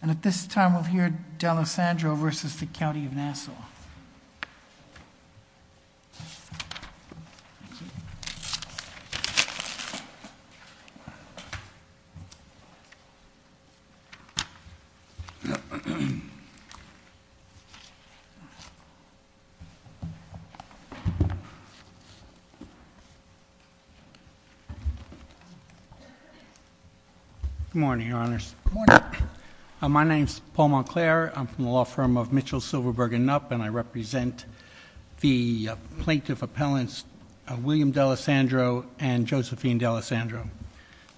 And at this time, we'll hear D'Alessandro v. The County of Nassau. Good morning, your honors. Good morning. My name's Paul Monclair. I'm from the law firm of Mitchell, Silverberg, and Knopp, and I represent the plaintiff appellants William D'Alessandro and Josephine D'Alessandro.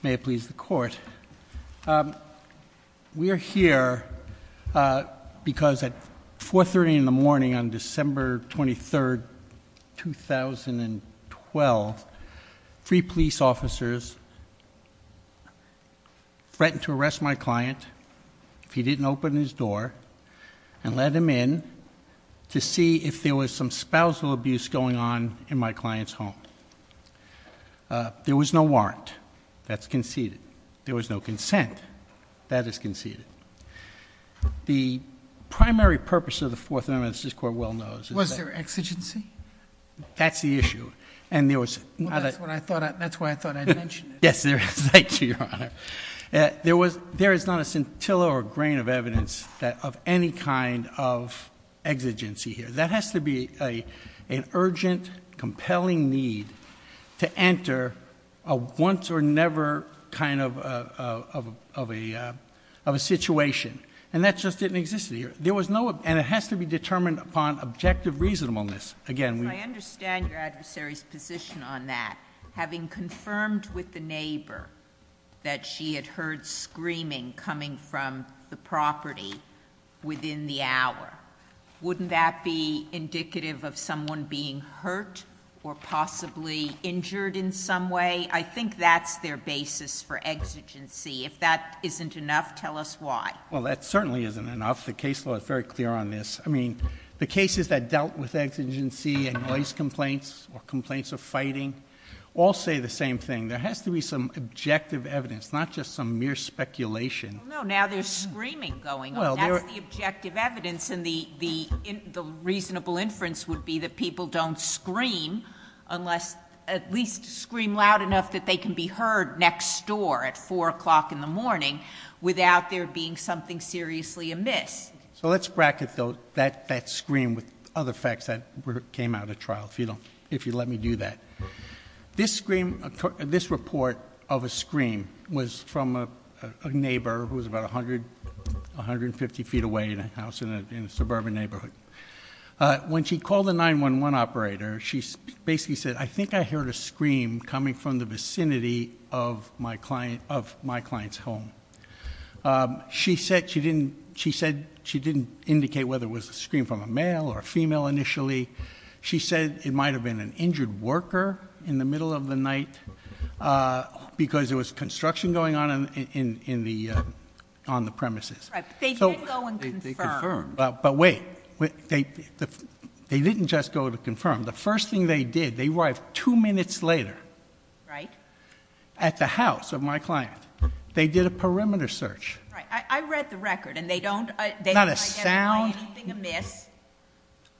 May it please the court. We are here because at 4.30 in the morning on December 23rd, 2012, three police officers threatened to arrest my client if he didn't open his door and let him in to see if there was some spousal abuse going on in my client's home. There was no warrant. That's conceded. There was no consent. That is conceded. The primary purpose of the Fourth Amendment, as this court well knows- Was there exigency? That's the issue. And there was- That's why I thought I'd mention it. Yes, there is, thank you, your honor. There is not a scintilla or grain of evidence of any kind of exigency here. That has to be an urgent, compelling need to enter a once or never kind of a situation. And that just didn't exist here. There was no, and it has to be determined upon objective reasonableness. Again, we- I understand your adversary's position on that. Having confirmed with the neighbor that she had heard screaming coming from the property within the hour. Wouldn't that be indicative of someone being hurt or possibly injured in some way? I think that's their basis for exigency. If that isn't enough, tell us why. Well, that certainly isn't enough. The case law is very clear on this. I mean, the cases that dealt with exigency and noise complaints or complaints of fighting, all say the same thing. There has to be some objective evidence, not just some mere speculation. No, now there's screaming going on, that's the objective evidence. And the reasonable inference would be that people don't scream, unless at least scream loud enough that they can be heard next door at 4 o'clock in the morning. Without there being something seriously amiss. So let's bracket that scream with other facts that came out of trial, if you'd let me do that. This report of a scream was from a neighbor who was about 150 feet away in a house in a suburban neighborhood. When she called the 911 operator, she basically said, I think I heard a scream coming from the vicinity of my client's home. She said she didn't indicate whether it was a scream from a male or a female initially. She said it might have been an injured worker in the middle of the night, because there was construction going on on the premises. Right, they did go and confirm. But wait, they didn't just go to confirm. The first thing they did, they arrived two minutes later. Right. At the house of my client. They did a perimeter search. Right, I read the record and they don't identify anything amiss.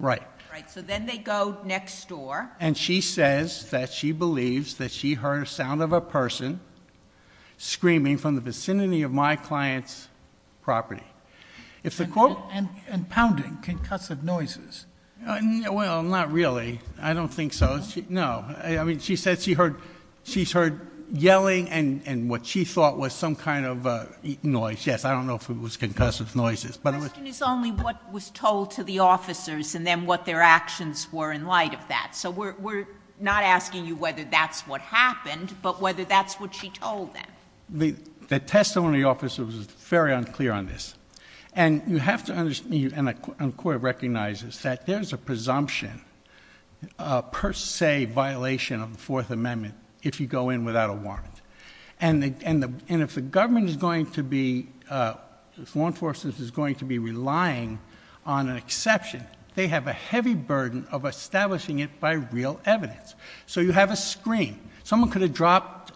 Right. Right, so then they go next door. And she says that she believes that she heard a sound of a person screaming from the vicinity of my client's property. If the court- And pounding, concussive noises. Well, not really. I don't think so. No, I mean, she said she heard yelling and what she thought was some kind of noise. Yes, I don't know if it was concussive noises. But it was- The question is only what was told to the officers and then what their actions were in light of that. So we're not asking you whether that's what happened, but whether that's what she told them. The testimony officer was very unclear on this. And you have to understand, and the court recognizes, that there's a presumption. Per se violation of the Fourth Amendment if you go in without a warrant. And if the government is going to be, if law enforcement is going to be relying on an exception, they have a heavy burden of establishing it by real evidence. So you have a scream. Someone could have dropped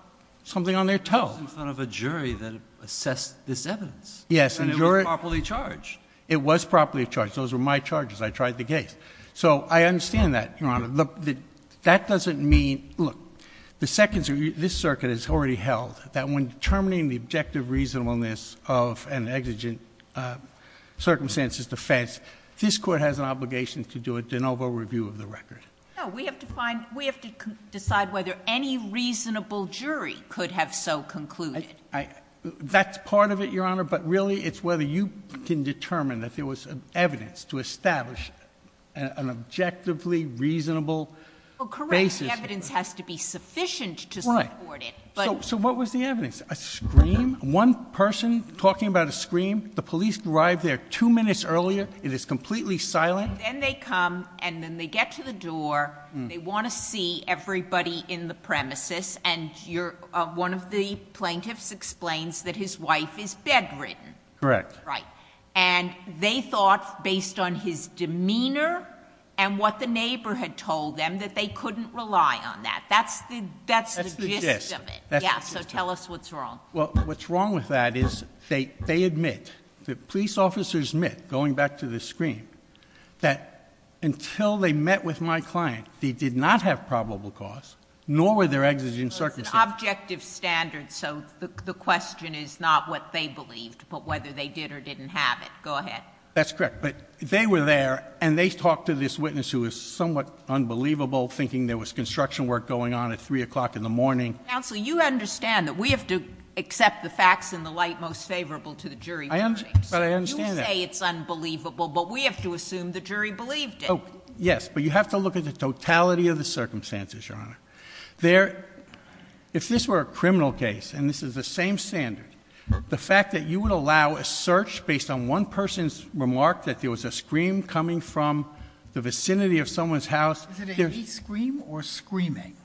something on their toe. It was in front of a jury that assessed this evidence. Yes, and jury- And it was properly charged. It was properly charged. Those were my charges. I tried the case. So I understand that, Your Honor. That doesn't mean, look, the Second Circuit, this circuit has already held that when determining the objective reasonableness of an exigent circumstances defense, this court has an obligation to do a de novo review of the record. No, we have to find, we have to decide whether any reasonable jury could have so concluded. That's part of it, Your Honor, but really it's whether you can determine that there was evidence to establish an objectively reasonable basis. Well, correct, the evidence has to be sufficient to support it, but- So what was the evidence? A scream? One person talking about a scream? The police arrive there two minutes earlier, it is completely silent? Then they come, and then they get to the door, they want to see everybody in the premises. And one of the plaintiffs explains that his wife is bedridden. Correct. Right. And they thought, based on his demeanor and what the neighbor had told them, that they couldn't rely on that. That's the gist of it. Yeah, so tell us what's wrong. Well, what's wrong with that is they admit, the police officers admit, going back to the scream, that until they met with my client, they did not have probable cause, nor were there exigent circumstances. Well, it's an objective standard, so the question is not what they believed, but whether they did or didn't have it. Go ahead. That's correct, but they were there, and they talked to this witness who was somewhat unbelievable, thinking there was construction work going on at 3 o'clock in the morning. Counsel, you understand that we have to accept the facts in the light most favorable to the jury. I understand that. You say it's unbelievable, but we have to assume the jury believed it. Yes, but you have to look at the totality of the circumstances, Your Honor. If this were a criminal case, and this is the same standard, the fact that you would allow a search based on one person's remark that there was a scream coming from the vicinity of someone's house. Is it a hate scream or screaming?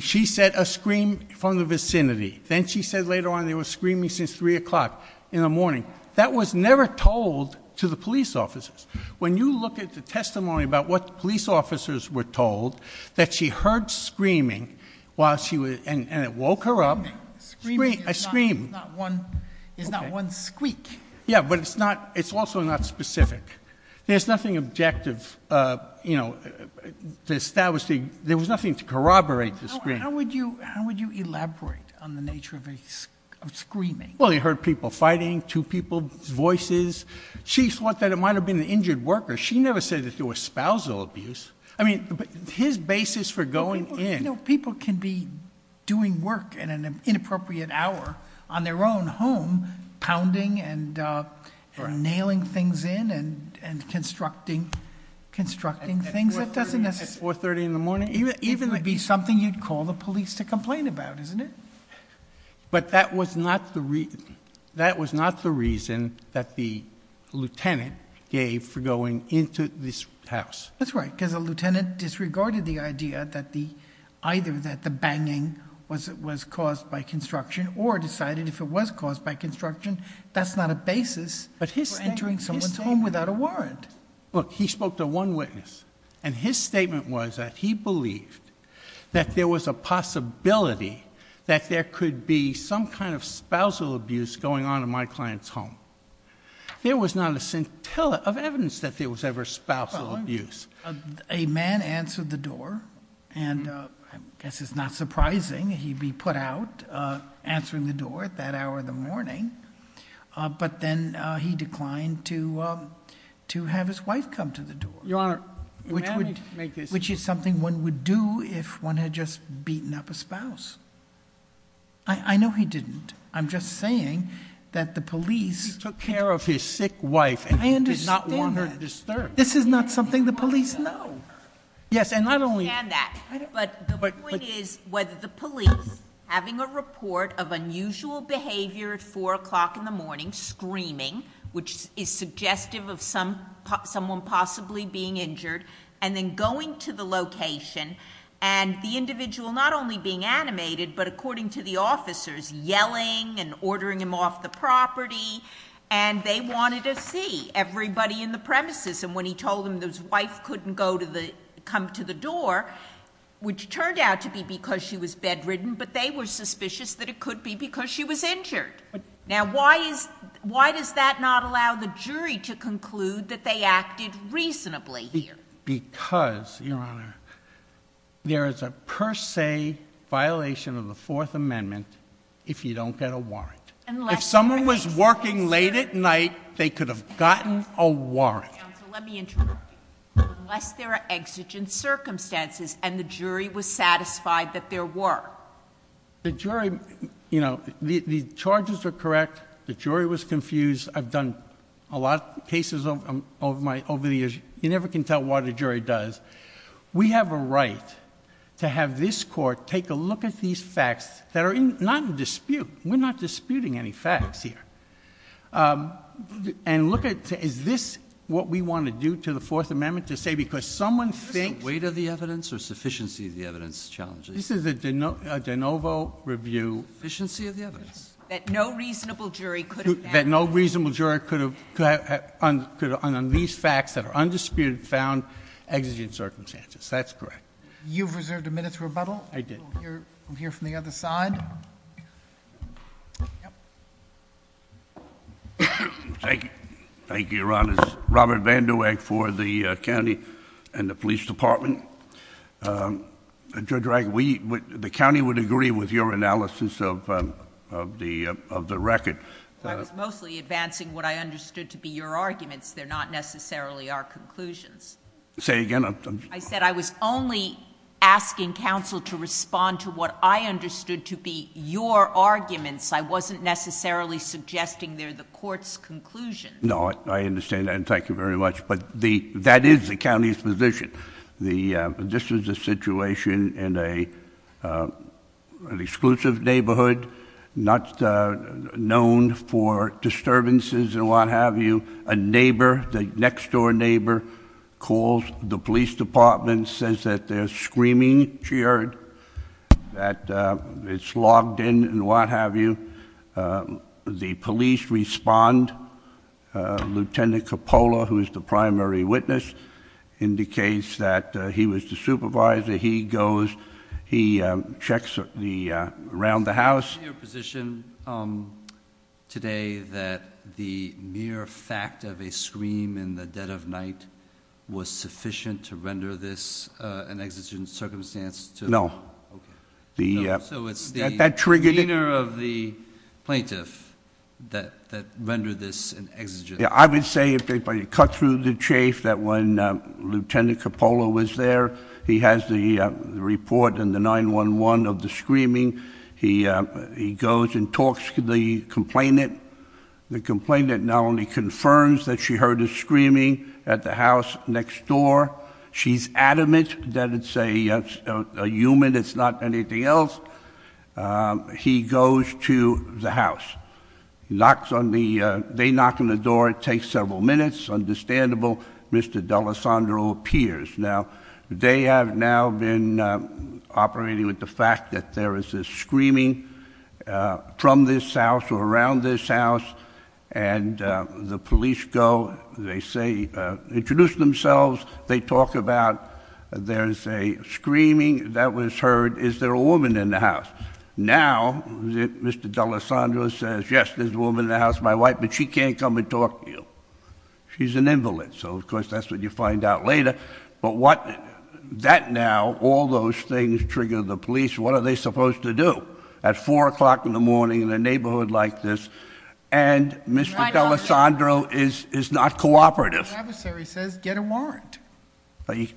She said a scream from the vicinity. Then she said later on they were screaming since 3 o'clock in the morning. That was never told to the police officers. When you look at the testimony about what police officers were told, that she heard screaming, and it woke her up. Screaming is not one squeak. Yeah, but it's also not specific. There's nothing objective, there was nothing to corroborate the scream. How would you elaborate on the nature of screaming? Well, you heard people fighting, two people's voices. She thought that it might have been an injured worker. She never said that there was spousal abuse. I mean, his basis for going in- People can be doing work at an inappropriate hour on their own home, pounding and nailing things in and constructing things that doesn't necessarily- At 4.30 in the morning? It would be something you'd call the police to complain about, isn't it? But that was not the reason that the lieutenant gave for going into this house. That's right, because the lieutenant disregarded the idea that either the banging was caused by construction or decided if it was caused by construction, that's not a basis for entering someone's home without a warrant. Look, he spoke to one witness, and his statement was that he believed that there was a possibility that there could be some kind of spousal abuse going on in my client's home. There was not a scintilla of evidence that there was ever spousal abuse. A man answered the door, and I guess it's not surprising he'd be put out answering the door at that hour in the morning, but then he declined to have his wife come to the door. Your Honor, may I make this- Which is something one would do if one had just beaten up a spouse. I know he didn't. I'm just saying that the police- He took care of his sick wife and he did not want her disturbed. This is not something the police know. Yes, and not only- I understand that. But the point is whether the police, having a report of unusual behavior at 4 o'clock in the morning, screaming, which is suggestive of someone possibly being injured, and then going to the location, and the individual not only being animated, but according to the officers, yelling and ordering him off the property. And they wanted to see everybody in the premises. And when he told them his wife couldn't come to the door, which turned out to be because she was bedridden, but they were suspicious that it could be because she was injured. Now, why does that not allow the jury to conclude that they acted reasonably here? Because, Your Honor, there is a per se violation of the Fourth Amendment if you don't get a warrant. If someone was working late at night, they could have gotten a warrant. Let me interrupt you. Unless there are exigent circumstances and the jury was satisfied that there were. The jury, the charges are correct. The jury was confused. I've done a lot of cases over the years. You never can tell what a jury does. We have a right to have this court take a look at these facts that are not in dispute. We're not disputing any facts here. And look at, is this what we want to do to the Fourth Amendment? To say, because someone thinks- Is this the weight of the evidence or sufficiency of the evidence challenge? This is a de novo review. Sufficiency of the evidence. That no reasonable jury could have- That no reasonable jury could have, on these facts that are undisputed found, exigent circumstances. That's correct. You've reserved a minute's rebuttal. I did. We'll hear from the other side. Thank you, thank you, Your Honors. Robert Vanderweg for the county and the police department. Judge Wright, the county would agree with your analysis of the record. I was mostly advancing what I understood to be your arguments. They're not necessarily our conclusions. Say it again. I said I was only asking counsel to respond to what I understood to be your arguments. I wasn't necessarily suggesting they're the court's conclusions. No, I understand that, and thank you very much. But that is the county's position. This is a situation in an exclusive neighborhood, not known for disturbances and what have you. A neighbor, the next door neighbor, calls the police department, says that they're screaming, she heard, that it's logged in and what have you. The police respond. Lieutenant Coppola, who is the primary witness, indicates that he was the supervisor. He goes, he checks around the house. Your position today that the mere fact of a scream in the dead of night was sufficient to render this an exigent circumstance? No. So it's the demeanor of the plaintiff that rendered this an exigent? Yeah, I would say, if I could cut through the chafe, that when Lieutenant Coppola was there, he has the report in the 911 of the screaming. He goes and talks to the complainant. The complainant not only confirms that she heard a screaming at the house next door, she's adamant that it's a human, it's not anything else. He goes to the house. He knocks on the, they knock on the door, it takes several minutes. Understandable, Mr. D'Alessandro appears. Now, they have now been operating with the fact that there is a screaming from this house or around this house. And the police go, they say, introduce themselves. They talk about, there's a screaming that was heard, is there a woman in the house? Now, Mr. D'Alessandro says, yes, there's a woman in the house, my wife, but she can't come and talk to you. She's an invalid, so of course, that's what you find out later. But what, that now, all those things trigger the police. What are they supposed to do at 4 o'clock in the morning in a neighborhood like this? And Mr. D'Alessandro is not cooperative. The adversary says, get a warrant.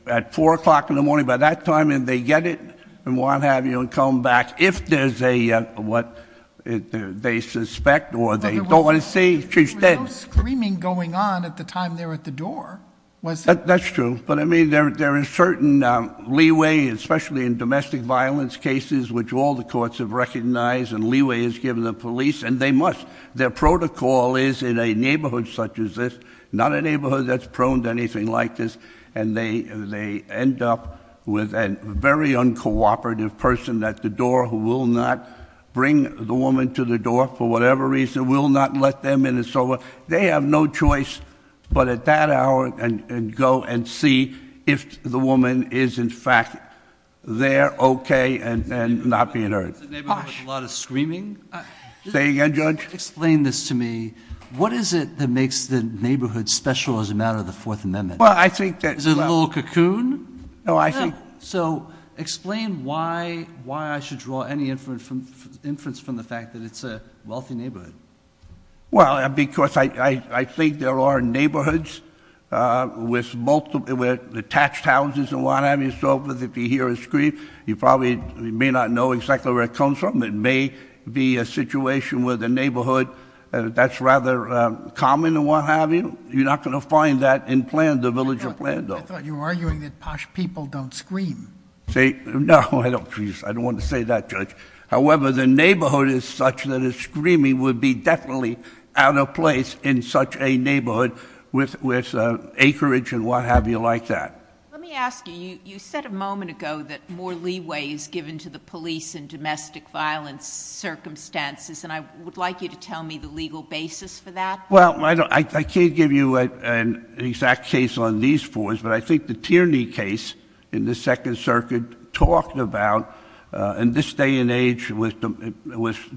At 4 o'clock in the morning, by that time, if they get it, and what have you, and come back if there's a, what they suspect or they don't want to see, she's dead. There was no screaming going on at the time they were at the door, was there? That's true, but I mean, there is certain leeway, especially in domestic violence cases, which all the courts have recognized, and leeway is given to the police, and they must. Their protocol is in a neighborhood such as this, not a neighborhood that's prone to anything like this. And they end up with a very uncooperative person at the door who will not bring the woman to the door for whatever reason, will not let them in, and so they have no choice. But at that hour, and go and see if the woman is, in fact, there, okay, and not being hurt. It's a neighborhood with a lot of screaming? Say again, Judge? Explain this to me. What is it that makes the neighborhood special as a matter of the Fourth Amendment? Well, I think that- Is it a little cocoon? No, I think- So, explain why I should draw any inference from the fact that it's a wealthy neighborhood. Well, because I think there are neighborhoods with multiple, with detached houses and what have you, and so forth. If you hear a scream, you probably may not know exactly where it comes from. It may be a situation where the neighborhood, that's rather common and what have you. You're not going to find that in Plano, the village of Plano. I thought you were arguing that posh people don't scream. Say, no, I don't, please, I don't want to say that, Judge. However, the neighborhood is such that a screaming would be definitely out of place in such a neighborhood with acreage and what have you like that. Let me ask you, you said a moment ago that more leeway is given to the police in domestic violence circumstances. And I would like you to tell me the legal basis for that. Well, I can't give you an exact case on these fours. But I think the Tierney case in the Second Circuit talked about, in this day and age with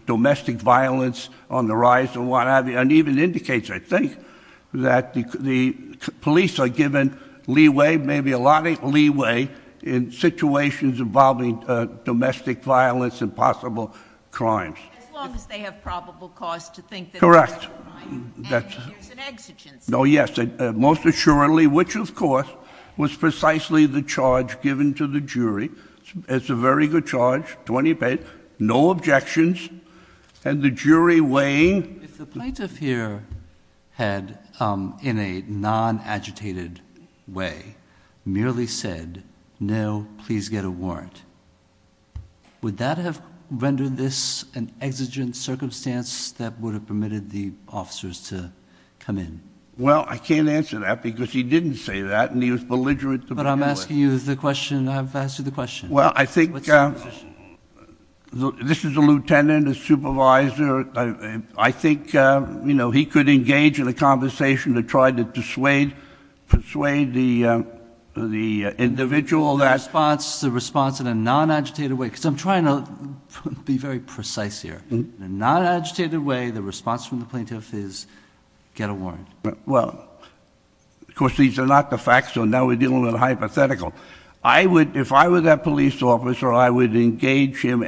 domestic violence on the rise and what have you. And even indicates, I think, that the police are given leeway, maybe a lot of leeway in situations involving domestic violence and possible crimes. As long as they have probable cause to think that- Correct. That's- There's an exigence. No, yes, most assuredly, which, of course, was precisely the charge given to the jury. It's a very good charge, 20 pence, no objections. And the jury weighing- If the plaintiff here had, in a non-agitated way, merely said, no, please get a warrant, would that have Well, I can't answer that because he didn't say that, and he was belligerent to- But I'm asking you the question, I've asked you the question. Well, I think this is a lieutenant, a supervisor. I think he could engage in a conversation to try to persuade the individual that- The response in a non-agitated way, because I'm trying to be very precise here. In a non-agitated way, the response from the plaintiff is, get a warrant. Well, of course, these are not the facts, so now we're dealing with a hypothetical. I would, if I were that police officer, I would engage him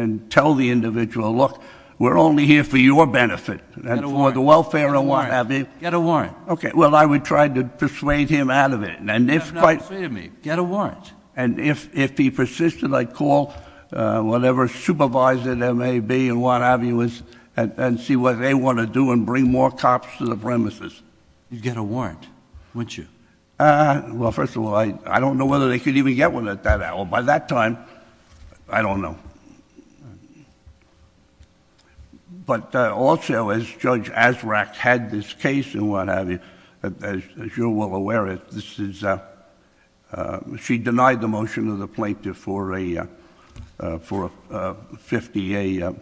and tell the individual, look, we're only here for your benefit, and for the welfare of what have you. Get a warrant. Okay, well, I would try to persuade him out of it, and if- You have not persuaded me. Get a warrant. And if he persisted, I'd call whatever supervisor there may be, and what have you, and see what they want to do, and bring more cops to the premises. You'd get a warrant, wouldn't you? Well, first of all, I don't know whether they could even get one at that hour. By that time, I don't know. But also, as Judge Azraq had this case, and what have you, as you're well aware of, this is, she denied the motion of the plaintiff for a 50, a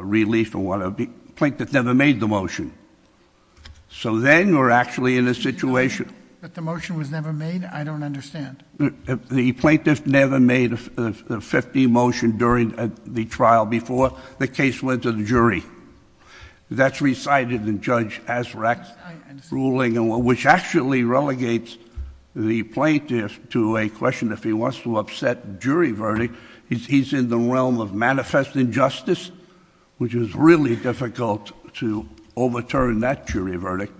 relief, or whatever. Plaintiff never made the motion. So then, we're actually in a situation- But the motion was never made? I don't understand. The plaintiff never made a 50 motion during the trial before the case went to the jury. That's recited in Judge Azraq's ruling, which actually relegates the plaintiff to a question. If he wants to upset jury verdict, he's in the realm of manifest injustice, which is really difficult to overturn that jury verdict.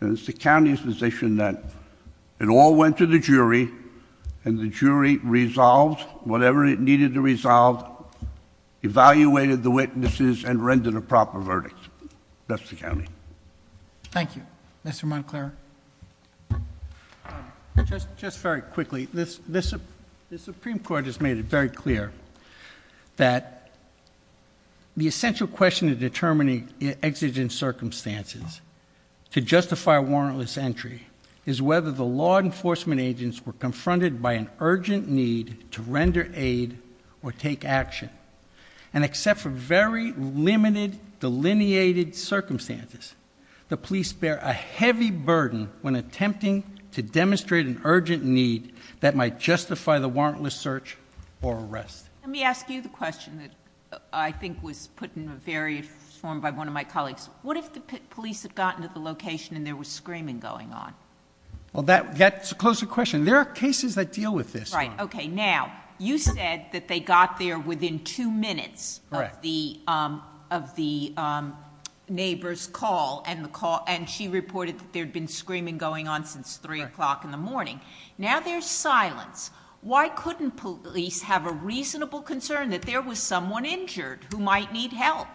And it's the county's position that it all went to the jury, and the jury resolved whatever it needed to resolve, evaluated the witnesses, and rendered a proper verdict, that's the county. Thank you. Mr. Moncler? Just very quickly, the Supreme Court has made it very clear that the essential question in determining exigent circumstances to justify a warrantless entry is whether the law enforcement agents were confronted by an urgent need to render aid or take action. And except for very limited, delineated circumstances, the police bear a heavy burden when attempting to demonstrate an urgent need that might justify the warrantless search or arrest. Let me ask you the question that I think was put in a very informed by one of my colleagues. What if the police had gotten to the location and there was screaming going on? Well, that's a closer question. There are cases that deal with this. Right, okay, now, you said that they got there within two minutes of the neighbor's call. And she reported that there had been screaming going on since 3 o'clock in the morning. Now there's silence. Why couldn't police have a reasonable concern that there was someone injured who might need help?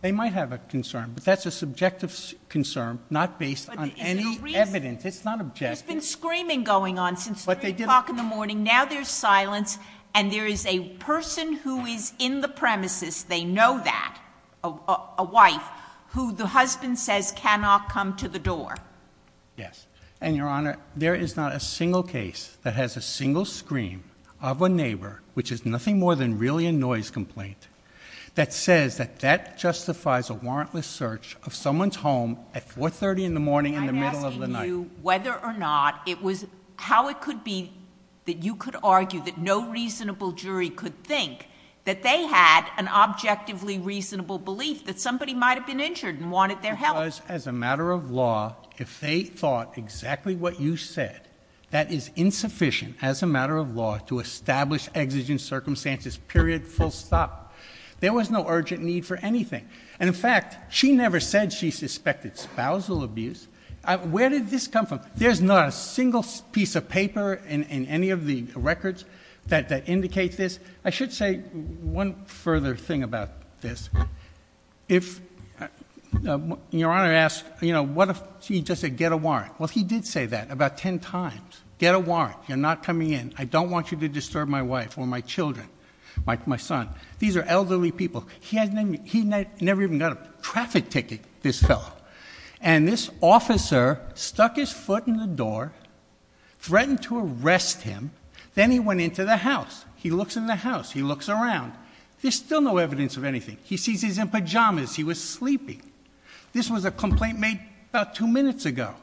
They might have a concern, but that's a subjective concern, not based on any evidence. It's not objective. There's been screaming going on since 3 o'clock in the morning. Now there's silence, and there is a person who is in the premises, they know that, a wife, who the husband says cannot come to the door. Yes, and Your Honor, there is not a single case that has a single scream of a neighbor, which is nothing more than really a noise complaint, that says that that justifies a warrantless search of someone's home at 4.30 in the morning in the middle of the night. Whether or not it was, how it could be that you could argue that no reasonable jury could think that they had an objectively reasonable belief that somebody might have been injured and wanted their help. Because as a matter of law, if they thought exactly what you said, that is insufficient as a matter of law to establish exigent circumstances, period, full stop. There was no urgent need for anything. And in fact, she never said she suspected spousal abuse. Where did this come from? There's not a single piece of paper in any of the records that indicates this. I should say one further thing about this. If Your Honor asks, what if she just said get a warrant? Well, he did say that about ten times. Get a warrant, you're not coming in. I don't want you to disturb my wife or my children, my son. These are elderly people. He never even got a traffic ticket, this fellow. And this officer stuck his foot in the door, threatened to arrest him, then he went into the house. He looks in the house, he looks around, there's still no evidence of anything. He sees he's in pajamas, he was sleeping. This was a complaint made about two minutes ago.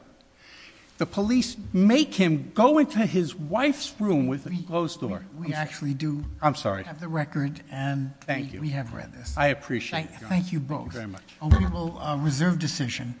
The police make him go into his wife's room with a closed door. We actually do- I'm sorry. Have the record and- Thank you. We have read this. I appreciate it, Your Honor. Thank you both. Thank you very much. We will reserve decision.